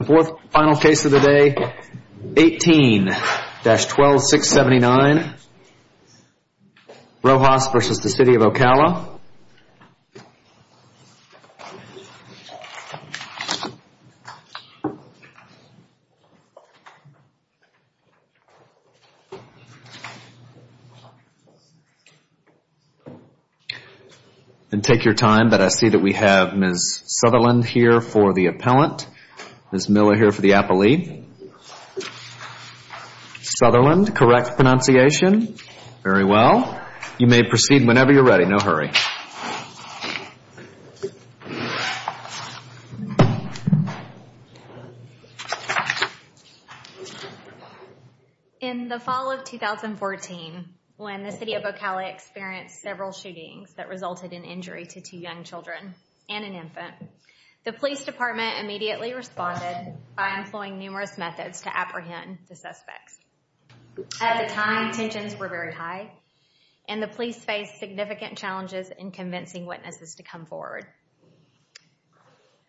The fourth and final case of the day, 18-12679, Rojas v. City of Ocala. And take your time, but I see that we have Ms. Sutherland here for the appellant, Ms. Miller here for the appellee. Sutherland, correct pronunciation, very well. You may proceed whenever you're ready, no hurry. In the fall of 2014, when the City of Ocala experienced several shootings that resulted in injury to two young children and an infant, the police department immediately responded by employing numerous methods to apprehend the suspects. At the time, tensions were very high and the police faced significant challenges in convincing witnesses to come forward.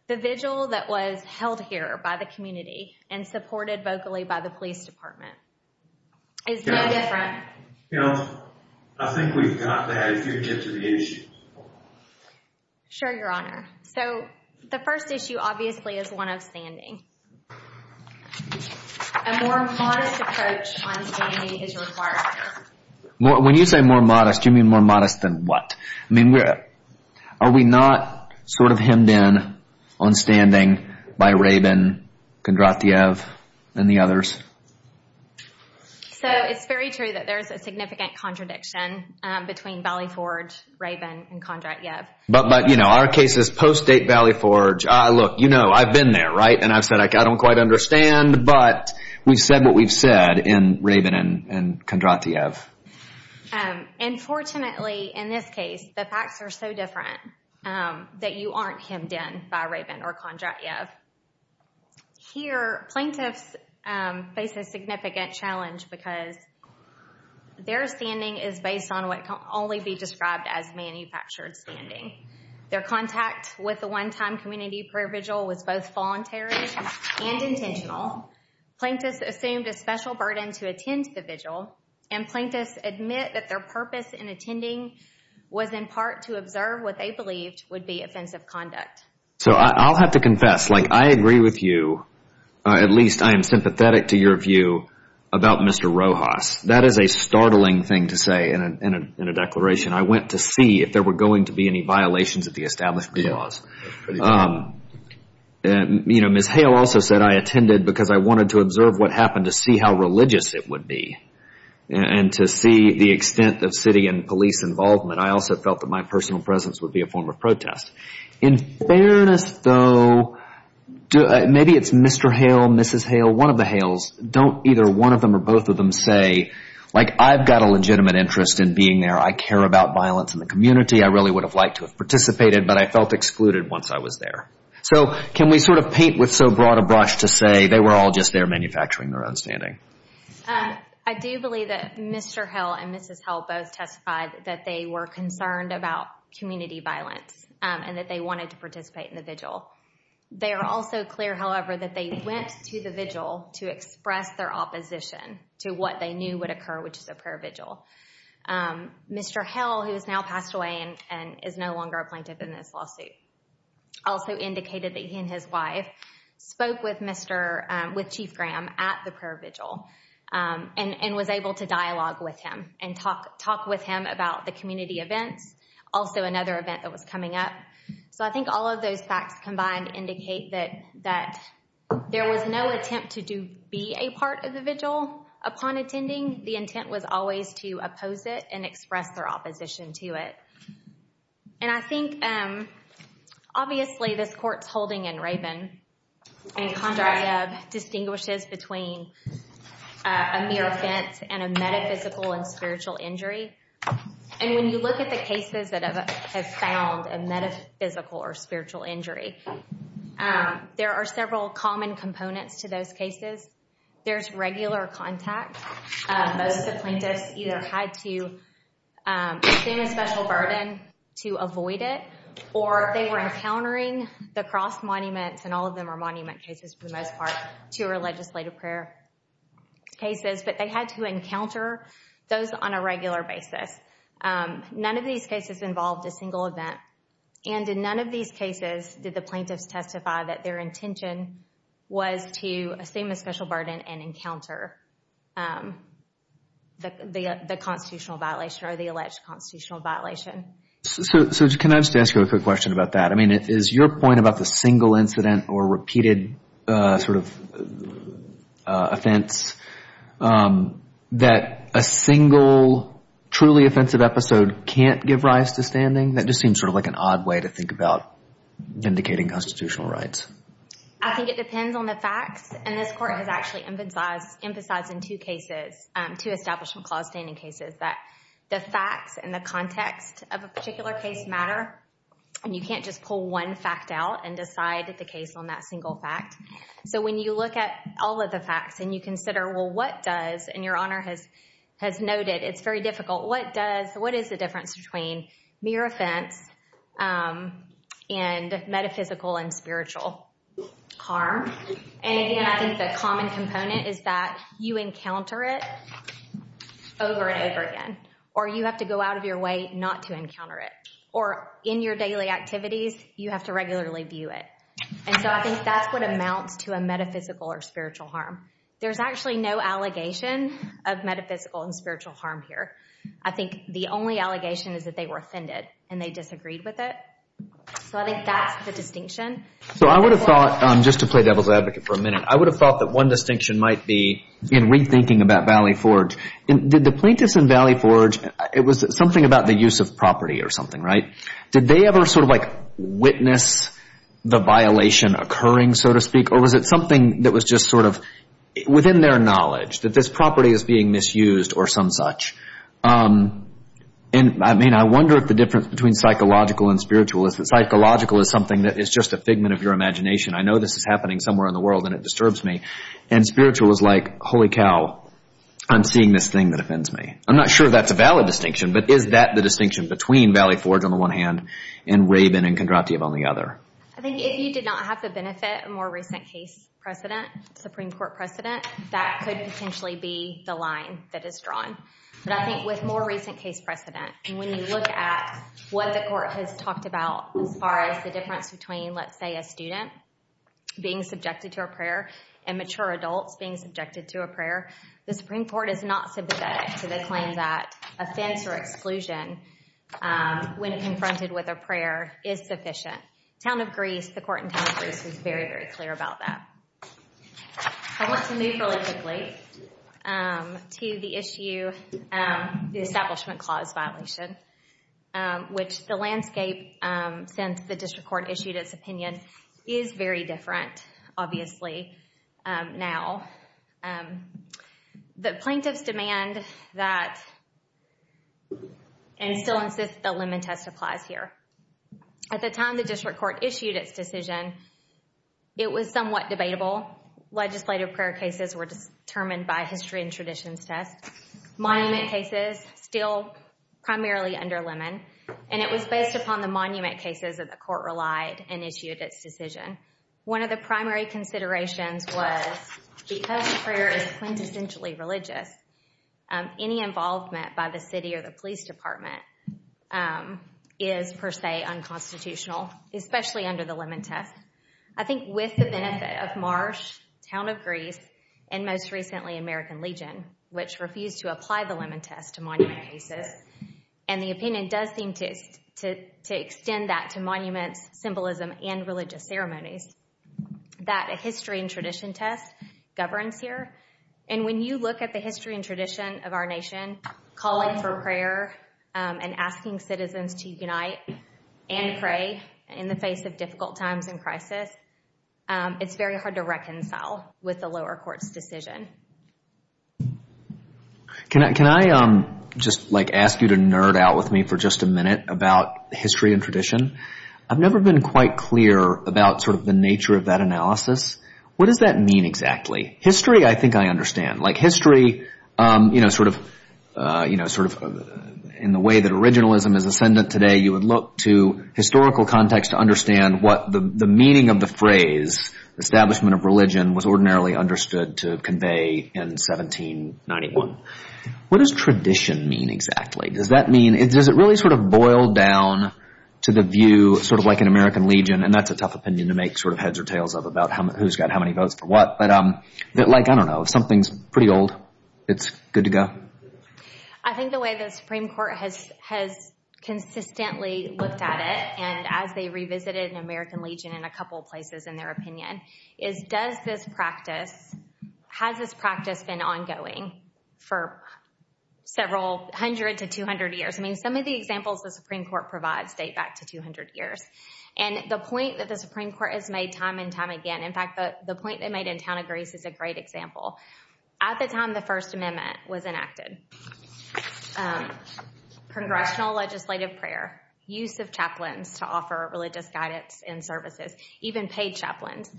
The vigil that was held here by the community and supported vocally by the police department is no different. Counsel, I think we've got that. If you could get to the issue. Sure, Your Honor. So, the first issue, obviously, is one of standing. A more modest approach on standing is required. When you say more modest, you mean more modest than what? I mean, are we not sort of hemmed in on standing by Rabin, Kondratyev, and the others? So, it's very true that there's a significant contradiction between Valley Forge, Rabin, and Kondratyev. But, you know, our case is post-date Valley Forge. Look, you know, I've been there, right? And I've said I don't quite understand, but we've said what we've said in Rabin and Kondratyev. And, fortunately, in this case, the facts are so different that you aren't hemmed in by Rabin or Kondratyev. Here, plaintiffs face a significant challenge because their standing is based on what can only be described as manufactured standing. Their contact with the one-time community prayer vigil was both voluntary and intentional. Plaintiffs assumed a special burden to attend the vigil, and plaintiffs admit that their purpose in attending was, in part, to observe what they believed would be offensive conduct. So, I'll have to confess, like, I agree with you. At least, I am sympathetic to your view about Mr. Rojas. That is a startling thing to say in a declaration. I went to see if there were going to be any violations of the establishment laws. You know, Ms. Hale also said I attended because I wanted to observe what happened to see how religious it would be. And to see the extent of city and police involvement, I also felt that my personal presence would be a form of protest. In fairness, though, maybe it's Mr. Hale, Mrs. Hale, one of the Hales, don't either one of them or both of them say, like, I've got a legitimate interest in being there, I care about violence in the community, I really would have liked to have participated, but I felt excluded once I was there. So, can we sort of paint with so broad a brush to say they were all just there manufacturing their own standing? I do believe that Mr. Hale and Mrs. Hale both testified that they were concerned about community violence, and that they wanted to participate in the vigil. They are also clear, however, that they went to the vigil to express their opposition to what they knew would occur, which is a prayer vigil. Mr. Hale, who has now passed away and is no longer a plaintiff in this lawsuit, also indicated that he and his wife spoke with Chief Graham at the prayer vigil and was able to dialogue with him and talk with him about the community events, also another event that was coming up. So, I think all of those facts combined indicate that there was no attempt to be a part of the vigil in attending. The intent was always to oppose it and express their opposition to it. And I think, obviously, this Court's holding in Raven and Condrayeb distinguishes between a mere offense and a metaphysical and spiritual injury. And when you look at the cases that have found a metaphysical or spiritual injury, there are several common components to those cases. There's regular contact. Most of the plaintiffs either had to assume a special burden to avoid it, or they were encountering the cross monuments, and all of them are monument cases for the most part, two are legislative prayer cases, but they had to encounter those on a regular basis. None of these cases involved a single event, and in none of these cases did the plaintiffs testify that their intention was to assume a special burden and encounter the constitutional violation or the alleged constitutional violation. So, can I just ask you a quick question about that? I mean, is your point about the single incident or repeated sort of offense, that a single thing? That just seems sort of like an odd way to think about indicating constitutional rights. I think it depends on the facts, and this Court has actually emphasized in two cases, two establishment clause standing cases, that the facts and the context of a particular case matter. And you can't just pull one fact out and decide the case on that single fact. So, when you look at all of the facts and you consider, well, what does, and Your Honor has noted, it's very difficult. What does, what is the difference between mere offense and metaphysical and spiritual harm? And again, I think the common component is that you encounter it over and over again, or you have to go out of your way not to encounter it, or in your daily activities, you have to regularly view it. And so, I think that's what amounts to a metaphysical or spiritual harm. There's actually no allegation of metaphysical and spiritual harm here. I think the only allegation is that they were offended and they disagreed with it. So, I think that's the distinction. So, I would have thought, just to play devil's advocate for a minute, I would have thought that one distinction might be in rethinking about Valley Forge. Did the plaintiffs in Valley Forge, it was something about the use of property or something, right? Did they ever sort of like witness the violation occurring, so to speak, or was it something that was just sort of within their knowledge, that this property is being misused or some such? And, I mean, I wonder if the difference between psychological and spiritual is that psychological is something that is just a figment of your imagination. I know this is happening somewhere in the world and it disturbs me. And spiritual is like, holy cow, I'm seeing this thing that offends me. I'm not sure that's a valid distinction, but is that the distinction between Valley Forge on the one hand and Rabin and Kondratiev on the other? I think if you did not have the benefit of a more recent case precedent, Supreme Court precedent, that could potentially be the line that is drawn. But I think with more recent case precedent, when you look at what the court has talked about as far as the difference between, let's say, a student being subjected to a prayer and mature adults being subjected to a prayer, the Supreme Court is not sympathetic to the offense or exclusion when confronted with a prayer is sufficient. Town of Greece, the court in Town of Greece is very, very clear about that. I want to move really quickly to the issue, the Establishment Clause violation, which the landscape, since the District Court issued its opinion, is very different, obviously, now. The plaintiffs demand that and still insist that the Lemon test applies here. At the time the District Court issued its decision, it was somewhat debatable. Legislative prayer cases were determined by history and traditions test. Monument cases, still primarily under Lemon, and it was based upon the monument cases that the court relied and issued its decision. One of the primary considerations was because prayer is quintessentially religious, any involvement by the city or the police department is per se unconstitutional, especially under the Lemon test. I think with the benefit of Marsh, Town of Greece, and most recently American Legion, which refused to apply the Lemon test to monument cases, and the opinion does seem to extend that to monuments, symbolism, and religious ceremonies, that a history and tradition test governs here. When you look at the history and tradition of our nation, calling for prayer and asking citizens to unite and pray in the face of difficult times and crisis, it's very hard to reconcile with the lower court's decision. Can I just ask you to nerd out with me for just a minute about history and tradition? I've never been quite clear about the nature of that analysis. What does that mean exactly? History, I think I understand. History, in the way that originalism is ascendant today, you would look to historical context to understand what the meaning of the phrase, establishment of religion, was ordinarily understood to convey in 1791. What does tradition mean exactly? Does it really sort of boil down to the view, sort of like an American Legion, and that's a tough opinion to make heads or tails of about who's got how many votes for what, but I don't know. If something's pretty old, it's good to go? I think the way the Supreme Court has consistently looked at it, and as they revisited an American Legion in several places in their opinion, is does this practice, has this practice been ongoing for several hundred to 200 years? I mean, some of the examples the Supreme Court provides date back to 200 years. And the point that the Supreme Court has made time and time again, in fact, the point they made in town of Greece is a great example. At the time the First Amendment was enacted, congressional legislative prayer, use of chaplains to offer religious guidance and services, even paid chaplains,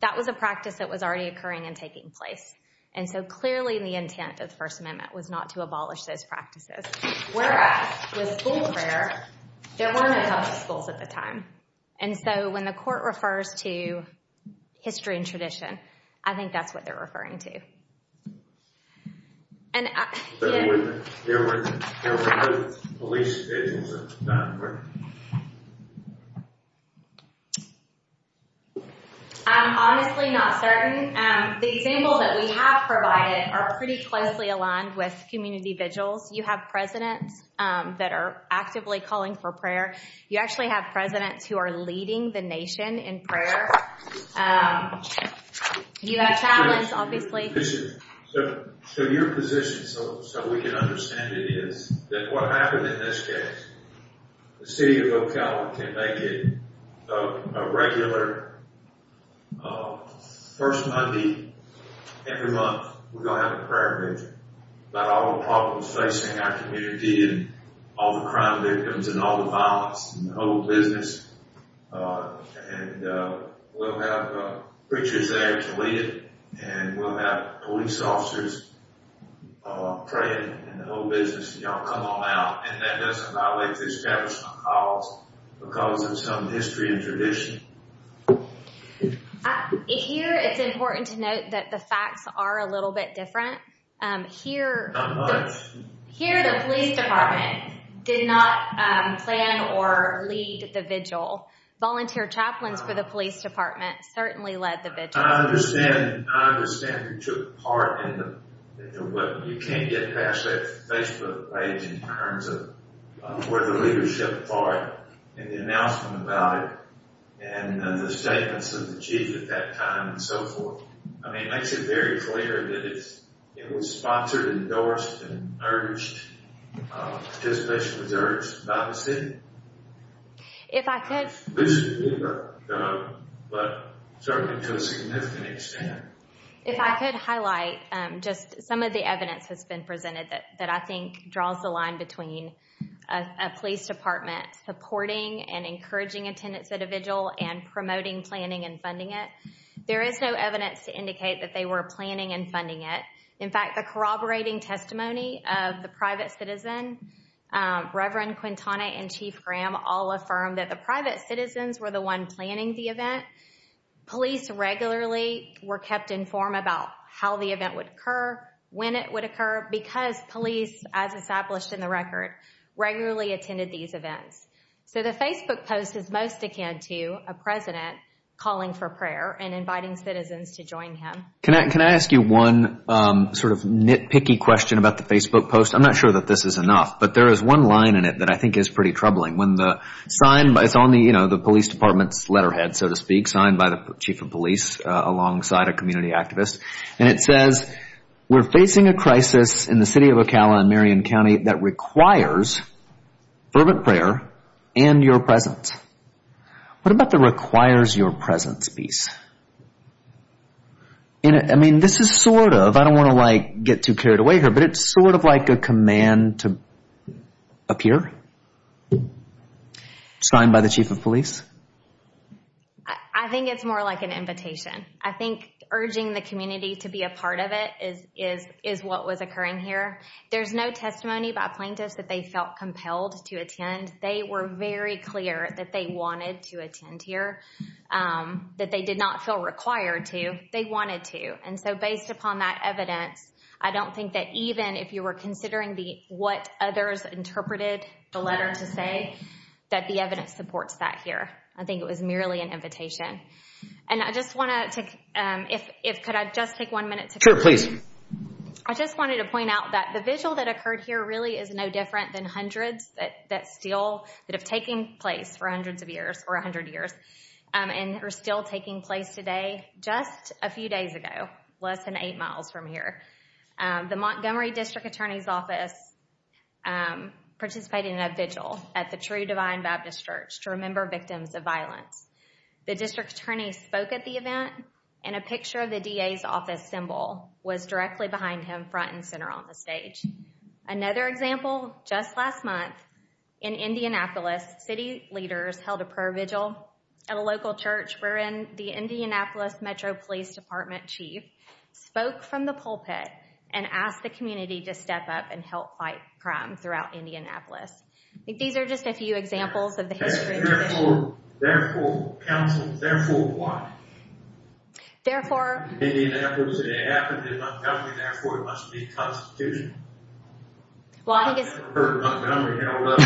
that was a practice that was already occurring and taking place. And so clearly the intent of the First Amendment was not to abolish those practices. Whereas with school prayer, there weren't enough schools at the time. And so when the court refers to history and tradition, I think that's what they're referring to. And... I'm honestly not certain. The examples that we have provided are pretty closely aligned with community vigils. You have presidents that are actively calling for prayer. You actually have presidents who are leading the nation in prayer. You have chaplains, obviously. So your position, so we can understand it, is that what happened in this case, the city of Ocala can make it a regular, first Monday every month, we're going to have a prayer vigil. About all the problems facing our community and all the crime victims and all the violence and the whole business. And we'll have preachers there to lead it. And we'll have police officers praying and the whole business. Y'all come on out. And that doesn't violate the Establishment Clause because of some history and tradition. Here, it's important to note that the facts are a little bit different. Here... Not much. Here, the police department did not plan or lead the vigil. Volunteer chaplains for the police department certainly led the vigil. I understand you took part in the... You can't get past that Facebook page in terms of where the leadership are and the announcement about it and the statements of the chief at that time and so forth. I mean, it makes it very clear that it was sponsored, endorsed, and urged. Participation was urged by the city. If I could... It's loosened a little bit, but certainly to a significant extent. If I could highlight just some of the evidence that's been presented that I think draws the line between a police department supporting and encouraging a tenants' vigil and promoting planning and funding it. There is no evidence to indicate that they were planning and funding it. In fact, the corroborating testimony of the private citizen, Reverend Quintana and Chief Graham all affirmed that the private citizens were the one planning the event. Police regularly were kept informed about how the event would occur, when it would occur, because police, as established in the record, regularly attended these events. So the Facebook post is most akin to a president calling for prayer and inviting citizens to join him. Can I ask you one sort of nitpicky question about the Facebook post? I'm not sure that this is enough, but there is one line in it that I think is pretty troubling. It's on the police department's letterhead, so to speak, signed by the chief of police alongside a community activist, and it says, We're facing a crisis in the city of Ocala in Marion County that requires fervent prayer and your presence. What about the requires your presence piece? This is sort of, I don't want to get too carried away here, but it's sort of like a command to appear. Signed by the chief of police. I think it's more like an invitation. I think urging the community to be a part of it is what was occurring here. There's no testimony by plaintiffs that they felt compelled to attend. They were very clear that they wanted to attend here, that they did not feel required to. They wanted to. And so based upon that evidence, I don't think that even if you were considering what others interpreted the letter to say, that the evidence supports that here. I think it was merely an invitation. And I just want to, if, could I just take one minute to finish? Sure, please. I just wanted to point out that the vigil that occurred here really is no different than hundreds that still, that have taken place for hundreds of years or a hundred years and are still taking place today. Just a few days ago, less than eight miles from here, the Montgomery District Attorney's Office participated in a vigil at the True Divine Baptist Church to remember victims of violence. The District Attorney spoke at the event and a picture of the DA's office symbol was directly behind him, front and center on the stage. Another example, just last month in Indianapolis, city leaders held a prayer vigil at a local church wherein the Indianapolis Metro Police Department Chief spoke from the pulpit and asked the community to step up and help fight crime throughout Indianapolis. I think these are just a few examples of the history and tradition. Therefore, therefore, counsel, therefore what? Therefore. In Indianapolis, it happened in Montgomery, therefore it must be a constitution. Well, I think it's. I've never heard Montgomery held up.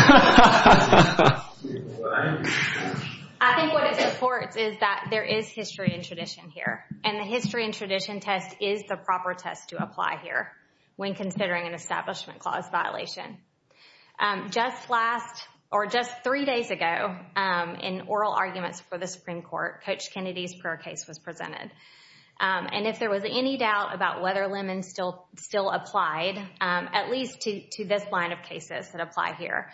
I think what it supports is that there is history and tradition here. And the history and tradition test is the proper test to apply here when considering an establishment clause violation. Just last, or just three days ago, in oral arguments for the Supreme Court, Coach Kennedy's prayer case was presented. And if there was any doubt about whether Lemon still applied, at least to this line of cases that apply here,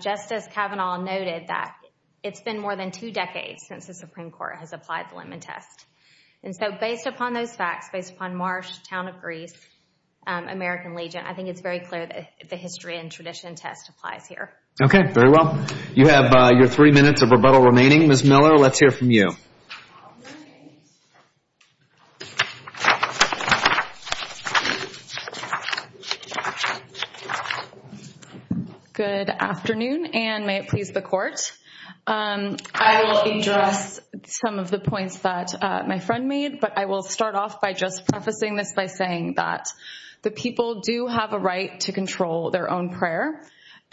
Justice Kavanaugh noted that it's been more than two decades since the Supreme Court has applied the Lemon test. And so based upon those facts, based upon Marsh, Town of Greece, American Legion, I think the history and tradition test applies here. Okay, very well. You have your three minutes of rebuttal remaining. Ms. Miller, let's hear from you. Good afternoon, and may it please the Court. I will address some of the points that my friend made, but I will start off by just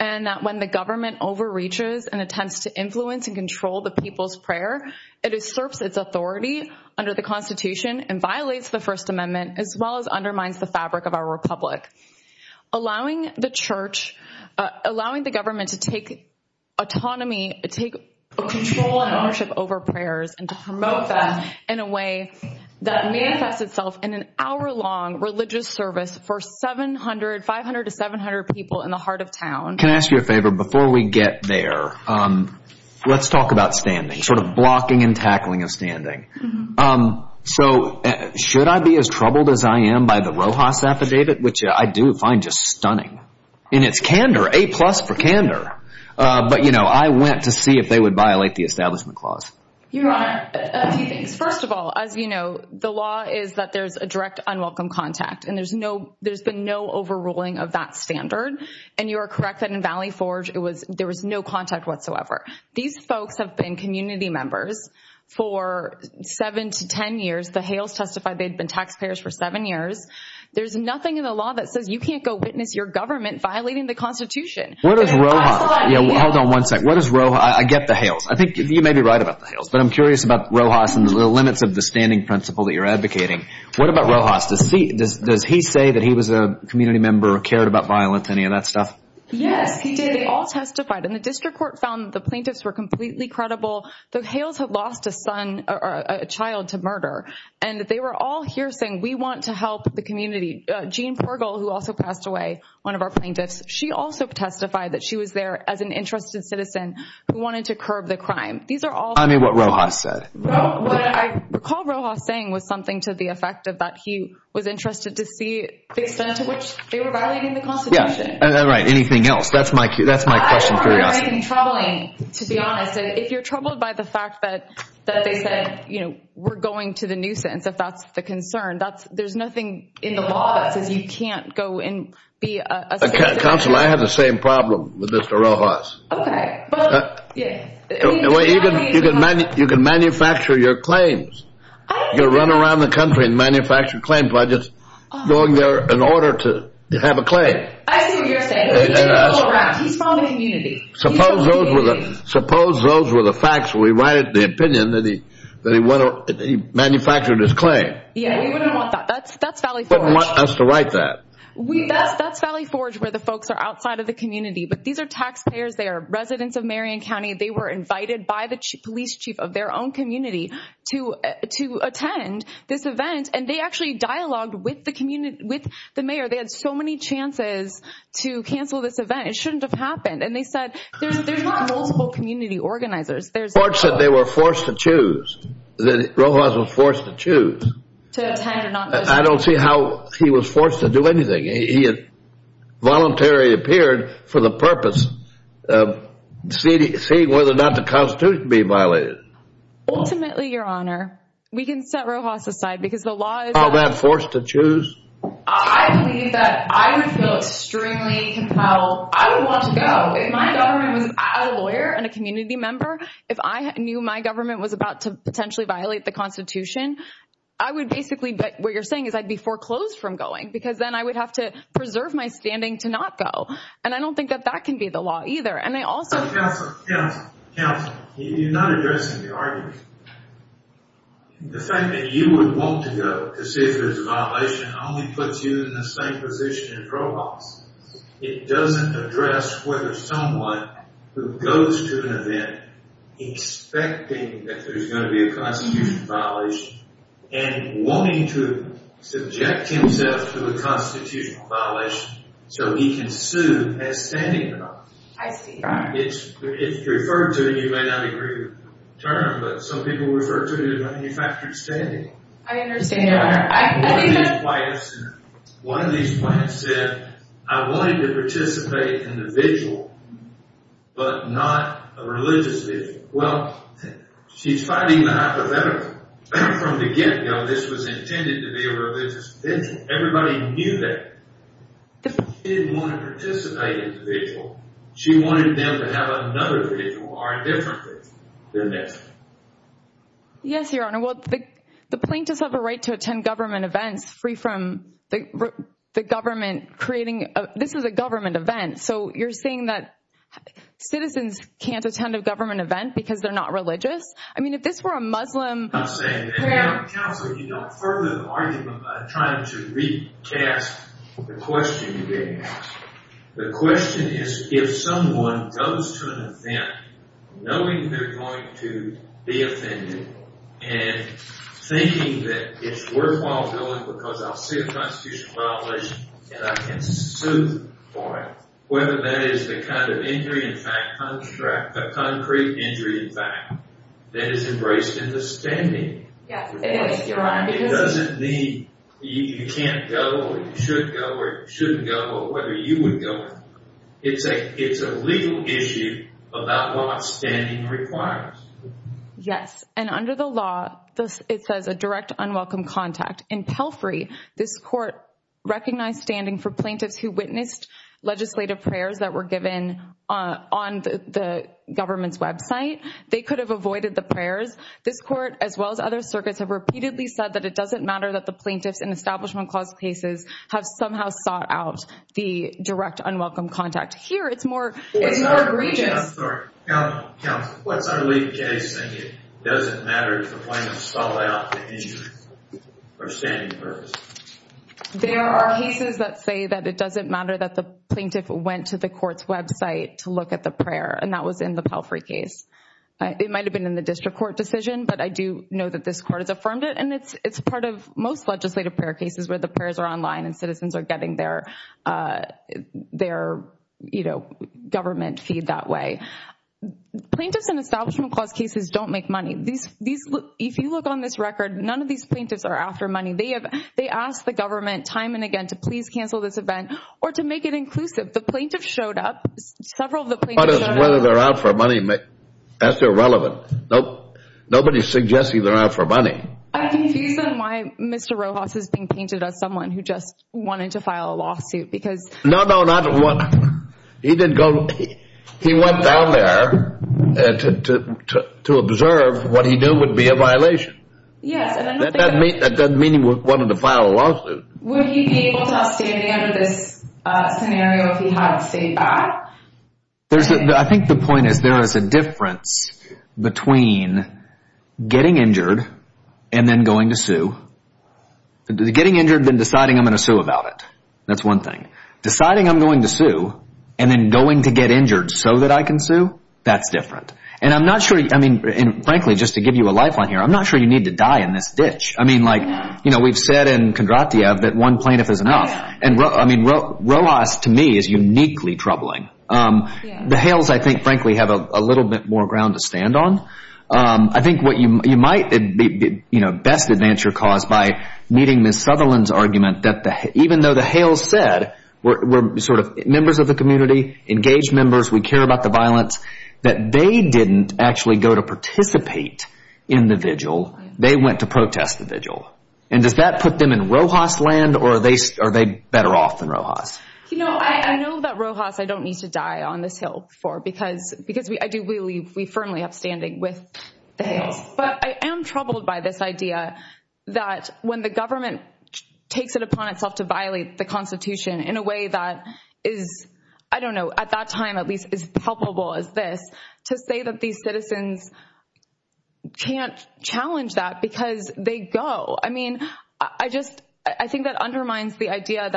and that when the government overreaches and attempts to influence and control the people's prayer, it usurps its authority under the Constitution and violates the First Amendment as well as undermines the fabric of our republic. Allowing the church, allowing the government to take autonomy, take control and ownership over prayers and to promote that in a way that manifests itself in an hour-long religious service for 700, 500 to 700 people in the heart of town. Can I ask you a favor? Before we get there, let's talk about standing, sort of blocking and tackling of standing. So should I be as troubled as I am by the Rojas affidavit, which I do find just stunning? And it's candor, A plus for candor. But, you know, I went to see if they would violate the Establishment Clause. Your Honor, a few things. There's been no overruling of that standard. And you are correct that in Valley Forge, there was no contact whatsoever. These folks have been community members for seven to ten years. The Hales testified they'd been taxpayers for seven years. There's nothing in the law that says you can't go witness your government violating the Constitution. Hold on one second. I get the Hales. I think you may be right about the Hales, but I'm curious about Rojas and the limits of the standing principle that you're advocating. What about Rojas? Does he say that he was a community member, cared about violence, any of that stuff? Yes, he did. They all testified. And the district court found that the plaintiffs were completely credible. The Hales had lost a son or a child to murder. And they were all here saying, we want to help the community. Jean Pergle, who also passed away, one of our plaintiffs, she also testified that she was there as an interested citizen who wanted to curb the crime. These are all— Tell me what Rojas said. What I recall Rojas saying was something to the effect that he was interested to see the extent to which they were violating the Constitution. Yeah, right. Anything else? That's my question for you. I'm not making you troubling, to be honest. If you're troubled by the fact that they said, you know, we're going to the nuisance, if that's the concern, there's nothing in the law that says you can't go and be a citizen. Counsel, I have the same problem with Mr. Rojas. Okay. You can manufacture your claims. You can run around the country and manufacture claim budgets going there in order to have a claim. I see what you're saying. He's following unity. Suppose those were the facts. We write the opinion that he manufactured his claim. Yeah, you wouldn't want that. That's Valley Forge. You wouldn't want us to write that. That's Valley Forge where the folks are outside of the community. But these are taxpayers. They are residents of Marion County. They were invited by the police chief of their own community to attend this event. And they actually dialogued with the mayor. They had so many chances to cancel this event. It shouldn't have happened. And they said, there's not multiple community organizers. Forge said they were forced to choose, that Rojas was forced to choose. To attend or not to attend. I don't see how he was forced to do anything. He voluntarily appeared for the purpose of seeing whether or not the Constitution would be violated. Ultimately, Your Honor, we can set Rojas aside because the law is... How about forced to choose? I believe that I would feel extremely compelled. I would want to go. If my government was a lawyer and a community member, if I knew my government was about to potentially violate the Constitution, I would basically, what you're saying is I'd be foreclosed from going. Because then I would have to preserve my standing to not go. And I don't think that that can be the law either. And I also... Counsel. Counsel. Counsel. You're not addressing the argument. The fact that you would want to go to see if there's a violation only puts you in the same position as Rojas. It doesn't address whether someone who goes to an event expecting that there's going to be a Constitution violation and wanting to subject himself to a Constitution violation so he can sue has standing in the law. I see. It's referred to, and you may not agree with the term, but some people refer to it as manufactured standing. I understand, Your Honor. I believe that... One of these clients said, I wanted to participate individually, but not religiously. Well, she's fighting the hypothetical. From the get-go, this was intended to be a religious event. Everybody knew that. She didn't want to participate individually. She wanted them to have another vigil or a different vigil than this. Yes, Your Honor. Well, the plaintiffs have a right to attend government events free from the government creating... This is a government event. So, you're saying that citizens can't attend a government event because they're not religious? I mean, if this were a Muslim... I'm saying that, Your Honor. Counsel, you don't further the argument by trying to recast the question you just asked. The question is, if someone goes to an event knowing they're going to be offended and thinking that it's worthwhile going because I'll see a constitutional violation and I can sue for it, whether that is the kind of injury in fact, a concrete injury in fact, that is embraced in the standing. Yes, it is, Your Honor. It doesn't mean you can't go or you should go or you shouldn't go or whether you would go. It's a legal issue about what standing requires. Yes. And under the law, it says a direct unwelcome contact. In Pelfrey, this court recognized standing for plaintiffs who witnessed legislative prayers that were given on the government's website. They could have avoided the prayers. This court, as well as other circuits, have repeatedly said that it doesn't matter that the plaintiffs in Establishment Clause cases have somehow sought out the direct unwelcome contact. Here, it's more egregious. Counsel, what's our legal case saying it doesn't matter if the plaintiffs sought out the injury for a standing purpose? There are cases that say that it doesn't matter that the plaintiff went to the court's website to look at the prayer and that was in the Pelfrey case. It might have been in the district court decision, but I do know that this court has affirmed it and it's part of most legislative prayer cases where the prayers are online and citizens are getting their government feed that way. Plaintiffs in Establishment Clause cases don't make money. If you look on this record, none of these plaintiffs are after money. They ask the government time and again to please cancel this event or to make it inclusive. The plaintiffs showed up. Several of the plaintiffs showed up. Whether they're out for money, that's irrelevant. Nobody's suggesting they're out for money. I'm confused on why Mr. Rojas is being painted as someone who just wanted to file a lawsuit because No, no, not one. He didn't go. He went down there to observe what he knew would be a violation. Yes, and I don't think that That doesn't mean he wanted to file a lawsuit. Would he be able to have standing under this scenario if he hadn't stayed back? I think the point is there is a difference between getting injured and then going to sue. Getting injured then deciding I'm going to sue about it. That's one thing. Deciding I'm going to sue and then going to get injured so that I can sue, that's different. And I'm not sure, I mean, frankly, just to give you a lifeline here, I'm not sure you need to die in this ditch. I mean, like, you know, we've said in Kondratiev that one plaintiff is enough. Rojas, to me, is uniquely troubling. The Hales, I think, frankly, have a little bit more ground to stand on. I think what you might best advance your cause by meeting Ms. Sutherland's argument that even though the Hales said we're sort of members of the community, engaged members, we care about the violence, that they didn't actually go to participate in the vigil. They went to protest the vigil. And does that put them in Rojas land or are they better off than Rojas? You know, I know that Rojas, I don't need to die on this hill before because I do believe we firmly have standing with the Hales. But I am troubled by this idea that when the government takes it upon itself to violate the Constitution in a way that is, I don't know, at that time at least as palpable as this, to say that these citizens can't challenge that because they go. I mean, I just, I think that undermines the idea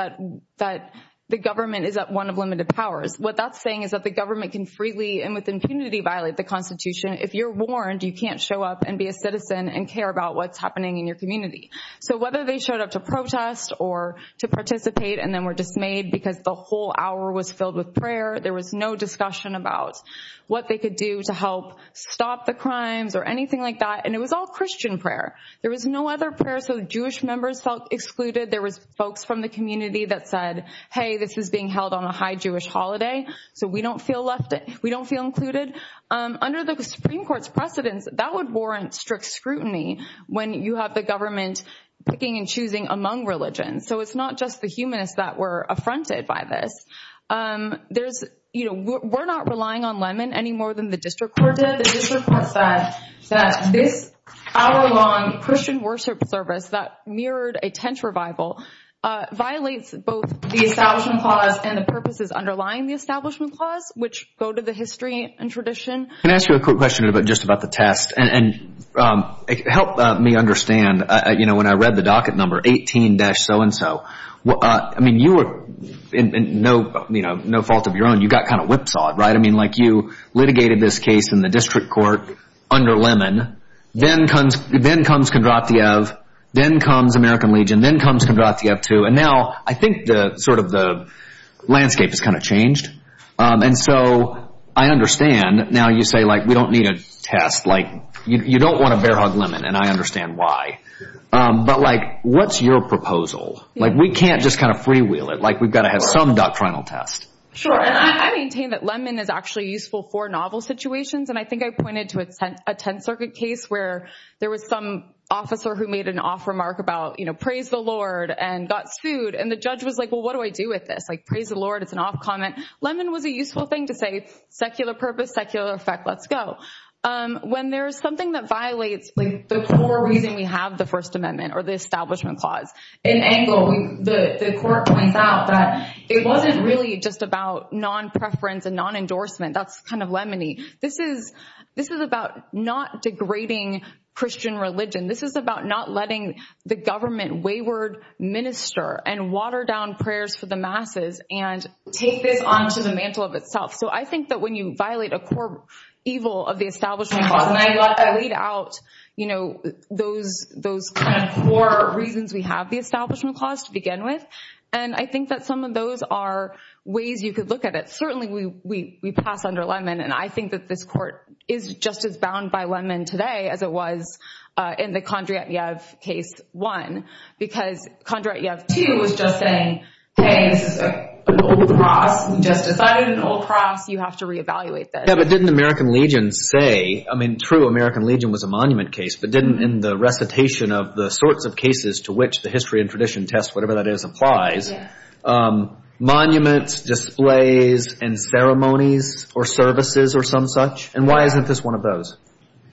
that the government is one of limited powers. What that's saying is that the government can freely and with impunity violate the Constitution. If you're warned, you can't show up and be a citizen and care about what's happening in your community. So whether they showed up to protest or to participate and then were dismayed because the whole hour was filled with prayer, there was no discussion about what they could do to help stop the crimes or anything like that. And it was all Christian prayer. There was no other prayer so Jewish members felt excluded. There was folks from the community that said, hey, this is being held on a high Jewish holiday. So we don't feel left, we don't feel included. Under the Supreme Court's precedence, that would warrant strict scrutiny when you have the government picking and choosing among religions. So it's not just the humanists that were affronted by this. There's, you know, we're not relying on Lemon any more than the district court did. But the district court said that this hour-long Christian worship service that mirrored a tent revival violates both the Establishment Clause and the purposes underlying the Establishment Clause, which go to the history and tradition. Can I ask you a quick question just about the test? And help me understand, you know, when I read the docket number 18-so-and-so, I mean, you were in no fault of your own. You got kind of whipsawed, right? I mean, like, you litigated this case in the district court under Lemon. Then comes Kondratiev. Then comes American Legion. Then comes Kondratiev II. And now I think sort of the landscape has kind of changed. And so I understand now you say, like, we don't need a test. Like, you don't want to bear hug Lemon, and I understand why. But, like, what's your proposal? Like, we can't just kind of freewheel it. Like, we've got to have some doctrinal test. Sure, and I maintain that Lemon is actually useful for novel situations. And I think I pointed to a Tenth Circuit case where there was some officer who made an off remark about, you know, praise the Lord and got sued. And the judge was like, well, what do I do with this? Like, praise the Lord, it's an off comment. Lemon was a useful thing to say, secular purpose, secular effect, let's go. When there is something that violates, like, the core reason we have the First Amendment or the Establishment Clause, in Engle, the court points out that it wasn't really just about non-preference and non-endorsement. That's kind of Lemony. This is about not degrading Christian religion. This is about not letting the government wayward minister and water down prayers for the masses and take this onto the mantle of itself. So I think that when you violate a core evil of the Establishment Clause, and I laid out, you know, those kind of core reasons we have the Establishment Clause to begin with. And I think that some of those are ways you could look at it. Certainly, we pass under Lemon. And I think that this court is just as bound by Lemon today as it was in the Kondratyev case one. Because Kondratyev two was just saying, hey, this is an old cross. We just decided an old cross. You have to reevaluate this. Yeah, but didn't American Legion say, I mean, true, American Legion was a monument case, but didn't in the recitation of the sorts of cases to which the history and tradition test, whatever that is, applies, monuments, displays, and ceremonies or services or some such? And why isn't this one of those?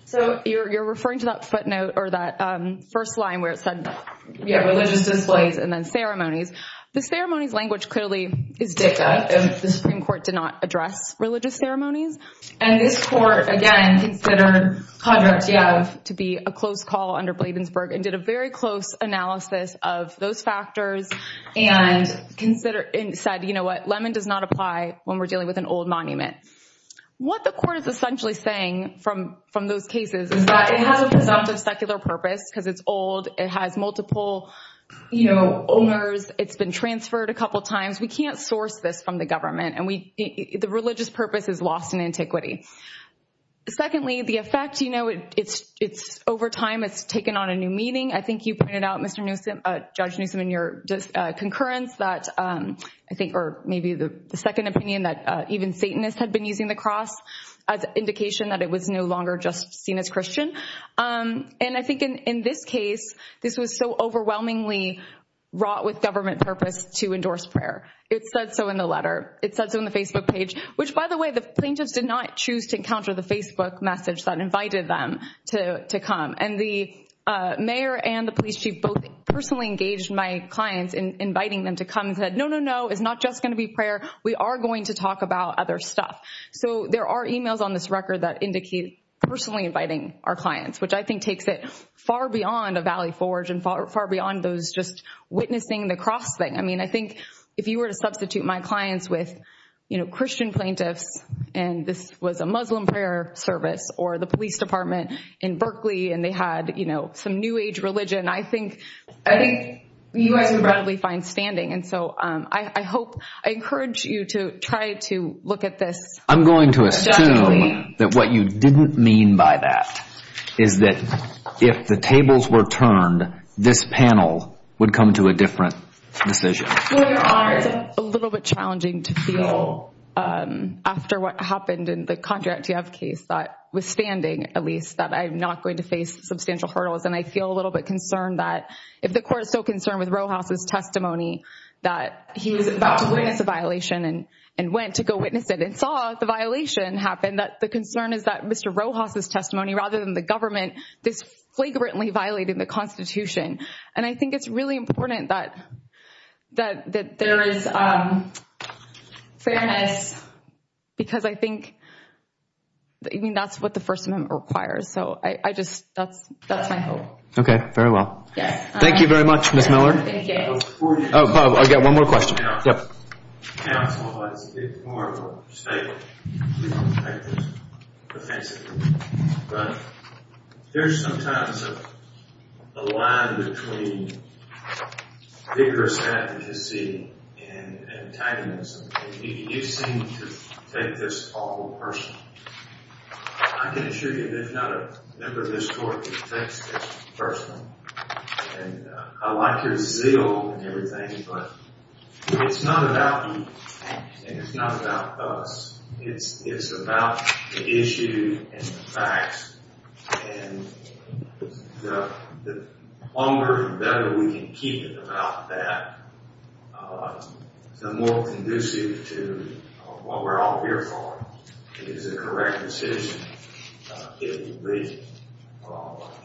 So you're referring to that footnote or that first line where it said, yeah, religious displays and then ceremonies. The ceremonies language clearly is different. The Supreme Court did not address religious ceremonies. And this court, again, considered Kondratyev to be a close call under Bladensburg and did a very close analysis of those factors and said, you know what, Lemon does not apply when we're dealing with an old monument. What the court is essentially saying from those cases is that it has a presumptive secular purpose because it's old. It has multiple owners. It's been transferred a couple times. We can't source this from the government, and the religious purpose is lost in antiquity. Secondly, the effect, you know, it's over time, it's taken on a new meaning. I think you pointed out, Judge Newsom, in your concurrence that I think or maybe the second opinion, that even Satanists had been using the cross as an indication that it was no longer just seen as Christian. And I think in this case, this was so overwhelmingly wrought with government purpose to endorse prayer. It said so in the letter. It said so on the Facebook page, which, by the way, the plaintiffs did not choose to encounter the Facebook message that invited them to come. And the mayor and the police chief both personally engaged my clients in inviting them to come and said, no, no, no, it's not just going to be prayer. We are going to talk about other stuff. So there are e-mails on this record that indicate personally inviting our clients, which I think takes it far beyond a Valley Forge and far beyond those just witnessing the cross thing. I mean, I think if you were to substitute my clients with, you know, Christian plaintiffs, and this was a Muslim prayer service or the police department in Berkeley, and they had, you know, some new age religion, I think you guys would probably find standing. And so I hope, I encourage you to try to look at this. I'm going to assume that what you didn't mean by that is that if the tables were turned, this panel would come to a different decision. Your Honor, it's a little bit challenging to feel after what happened in the Contract to You Have case, that withstanding, at least, that I'm not going to face substantial hurdles. And I feel a little bit concerned that if the Court is so concerned with Rojas' testimony, that he was about to witness a violation and went to go witness it and saw the violation happen, that the concern is that Mr. Rojas' testimony, rather than the government, this flagrantly violated the Constitution. And I think it's really important that there is fairness because I think, I mean, that's what the First Amendment requires. So I just, that's my hope. Okay. Very well. Yes. Thank you very much, Ms. Miller. Thank you. Oh, I've got one more question. Counsel, it's a bit more of a staple. We don't take this offensively. But there's sometimes a line between vigorous advocacy and antagonism. You seem to take this awful personally. I can assure you there's not a member of this Court who takes this personally. And I like your zeal and everything, but it's not about you. And it's not about us. It's about the issue and the facts. And the longer and better we can keep it about that, the more conducive to what we're all here for, is a correct decision, if you believe it.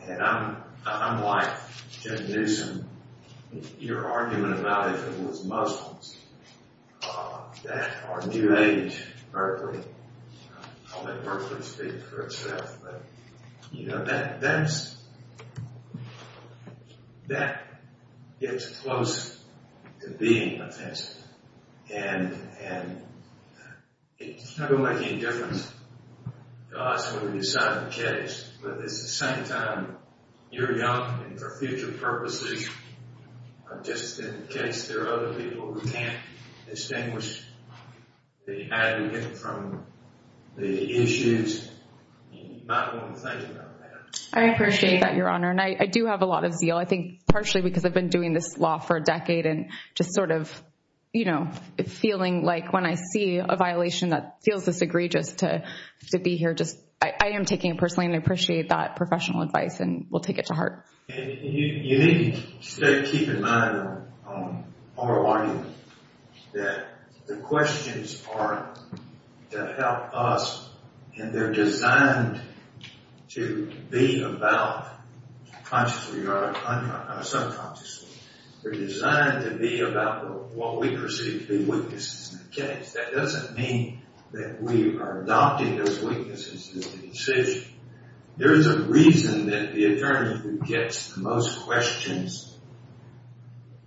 And I'm like Jim Newsom. Your argument about if it was Muslims that are New Age Berkeley. I'll let Berkeley speak for itself. But, you know, that gets close to being offensive. And it's not going to make any difference to us when we decide the case. But at the same time, you're young. And for future purposes, just in case there are other people who can't distinguish the aggregate from the issues, you might want to think about that. I appreciate that, Your Honor. And I do have a lot of zeal. I think partially because I've been doing this law for a decade and just sort of, you know, feeling like when I see a violation that feels this egregious to be here, I am taking it personally and I appreciate that professional advice and will take it to heart. And you need to keep in mind our argument that the questions are to help us and they're designed to be about consciously or subconsciously. They're designed to be about what we perceive to be weaknesses in the case. That doesn't mean that we are adopting those weaknesses in the decision. There is a reason that the attorney who gets the most questions,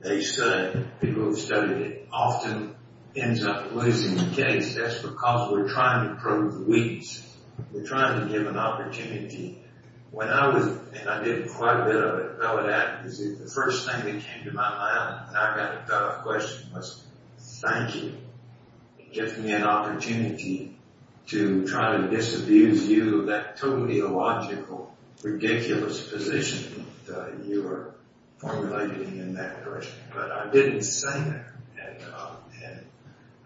they say, people who've studied it, often ends up losing the case. That's because we're trying to prove the weakness. We're trying to give an opportunity. When I was, and I did quite a bit of it, the first thing that came to my mind when I got the question was thank you. It gives me an opportunity to try to disabuse you of that totally illogical, ridiculous position that you are formulating in that direction. But I didn't say that.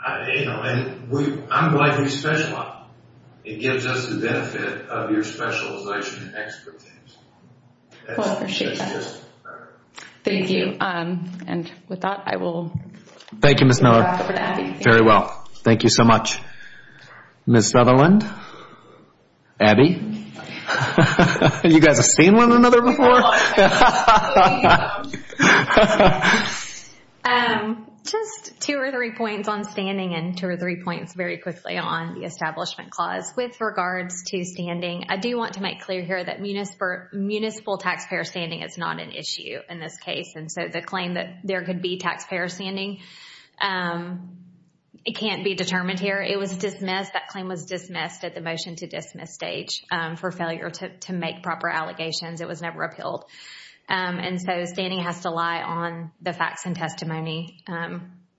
And, you know, I'm glad you specialize. It gives us the benefit of your specialization and expertise. Well, I appreciate that. Thank you. And with that, I will turn it back over to Abby. Thank you, Ms. Miller. Very well. Thank you so much. Ms. Sutherland? Abby? You guys have seen one another before? Just two or three points on standing and two or three points very quickly on the establishment clause. With regards to standing, I do want to make clear here that municipal taxpayer standing is not an issue in this case. And so the claim that there could be taxpayer standing, it can't be determined here. It was dismissed. That claim was dismissed at the motion to dismiss stage for failure to make proper allegations. It was never appealed. And so standing has to lie on the facts and testimony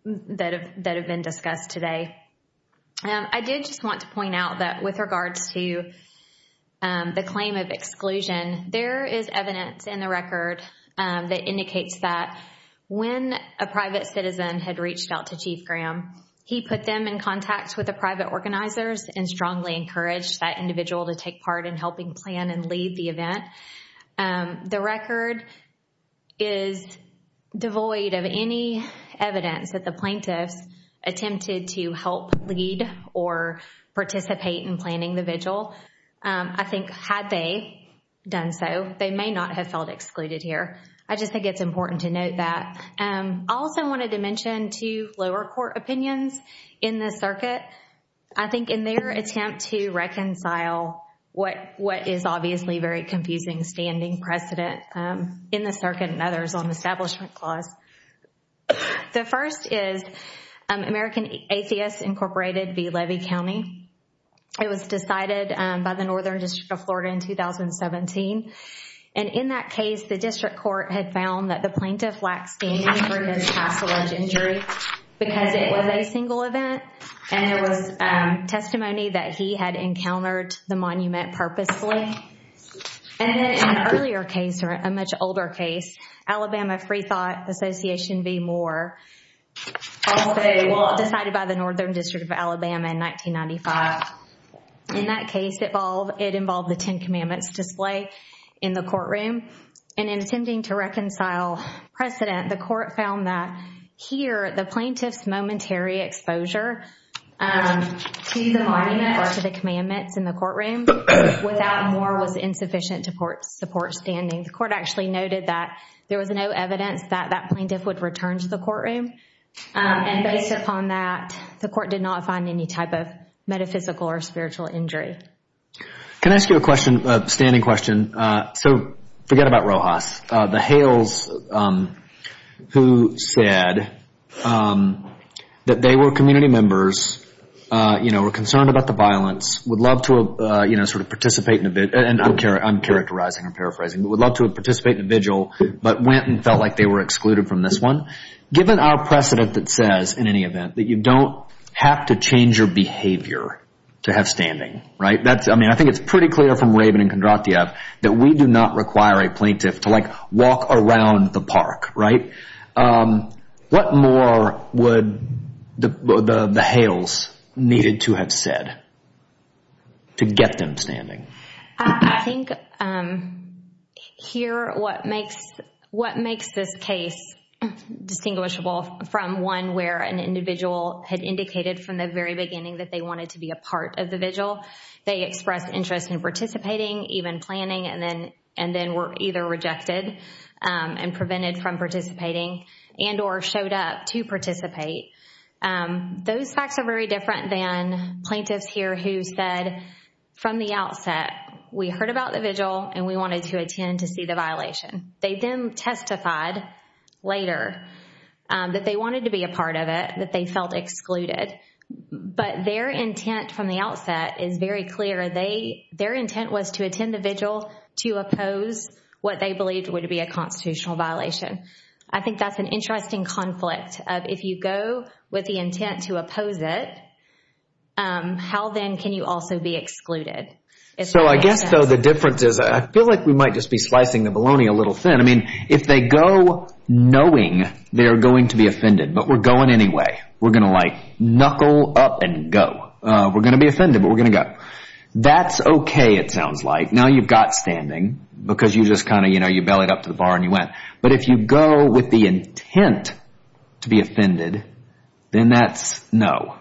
that have been discussed today. I did just want to point out that with regards to the claim of exclusion, there is evidence in the record that indicates that when a private citizen had reached out to Chief Graham, he put them in contact with the private organizers and strongly encouraged that individual to take part in helping plan and lead the event. The record is devoid of any evidence that the plaintiffs attempted to help lead or participate in planning the vigil. I think had they done so, they may not have felt excluded here. I just think it's important to note that. I also wanted to mention two lower court opinions in this circuit. I think in their attempt to reconcile what is obviously very confusing standing precedent in the circuit and others on the Establishment Clause. The first is American Atheists Incorporated v. Levee County. It was decided by the Northern District of Florida in 2017. And in that case, the district court had found that the plaintiff lacked standing for his past alleged injury because it was a single event and there was testimony that he had encountered the monument purposely. And in an earlier case or a much older case, Alabama Freethought Association v. Moore. Also decided by the Northern District of Alabama in 1995. In that case, it involved the Ten Commandments display in the courtroom. And in attempting to reconcile precedent, the court found that here, the plaintiff's momentary exposure to the monument or to the commandments in the courtroom without Moore was insufficient to support standing. The court actually noted that there was no evidence that that plaintiff would return to the courtroom. And based upon that, the court did not find any type of metaphysical or spiritual injury. Can I ask you a standing question? So forget about Rojas. The Hales who said that they were community members, you know, were concerned about the violence, would love to, you know, sort of participate in a vigil. And I'm characterizing, I'm paraphrasing. Would love to participate in a vigil, but went and felt like they were excluded from this one. Given our precedent that says, in any event, that you don't have to change your behavior to have standing, right? That's, I mean, I think it's pretty clear from Raven and Kondratieff that we do not require a plaintiff to, like, walk around the park, right? What more would the Hales needed to have said to get them standing? I think here what makes this case distinguishable from one where an individual had indicated from the very beginning that they wanted to be a part of the vigil, they expressed interest in participating, even planning, and then were either rejected and prevented from participating and or showed up to participate. Those facts are very different than plaintiffs here who said from the outset, we heard about the vigil and we wanted to attend to see the violation. They then testified later that they wanted to be a part of it, that they felt excluded. But their intent from the outset is very clear. Their intent was to attend the vigil to oppose what they believed would be a constitutional violation. I think that's an interesting conflict. If you go with the intent to oppose it, how then can you also be excluded? So I guess, though, the difference is, I feel like we might just be slicing the bologna a little thin. I mean, if they go knowing they're going to be offended, but we're going anyway. We're going to like knuckle up and go. We're going to be offended, but we're going to go. That's okay, it sounds like. Now you've got standing because you just kind of, you know, you bellied up to the bar and you went. But if you go with the intent to be offended, then that's no.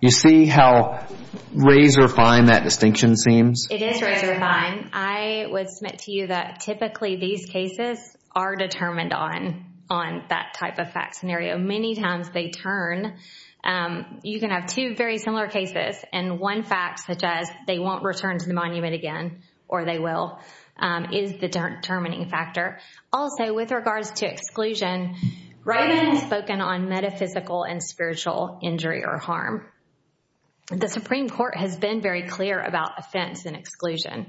You see how razor fine that distinction seems? It is razor fine. I would submit to you that typically these cases are determined on that type of fact scenario. Many times they turn. You can have two very similar cases, and one fact such as they won't return to the monument again, or they will, is the determining factor. Also, with regards to exclusion, writing is spoken on metaphysical and spiritual injury or harm. The Supreme Court has been very clear about offense and exclusion,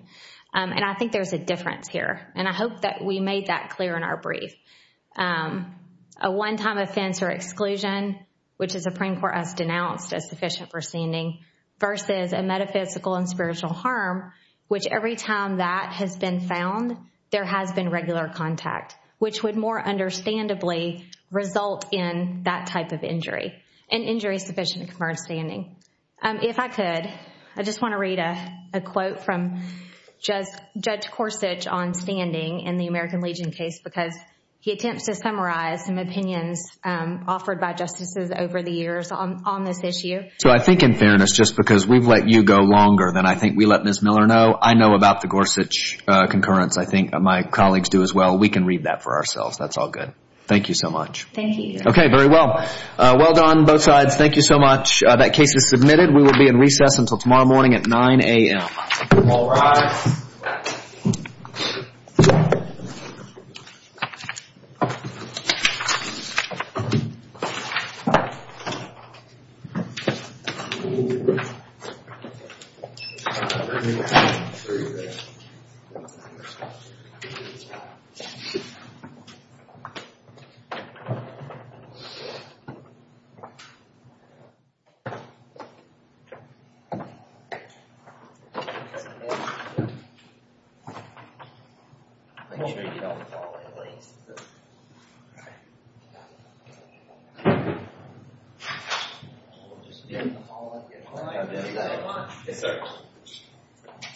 and I think there's a difference here. And I hope that we made that clear in our brief. A one-time offense or exclusion, which the Supreme Court has denounced as sufficient for standing, versus a metaphysical and spiritual harm, which every time that has been found, there has been regular contact, which would more understandably result in that type of injury. An injury sufficient to converge standing. If I could, I just want to read a quote from Judge Corsich on standing in the American Legion case because he attempts to summarize some opinions offered by justices over the years on this issue. So I think in fairness, just because we've let you go longer than I think we let Ms. Miller know, I know about the Corsich concurrence. I think my colleagues do as well. We can read that for ourselves. That's all good. Thank you so much. Thank you. Okay, very well. Well done, both sides. Thank you so much. That case is submitted. We will be in recess until tomorrow morning at 9 a.m. All rise. Thank you. All right. We'll just be in the hallway. All right. Thank you very much. Yes sir.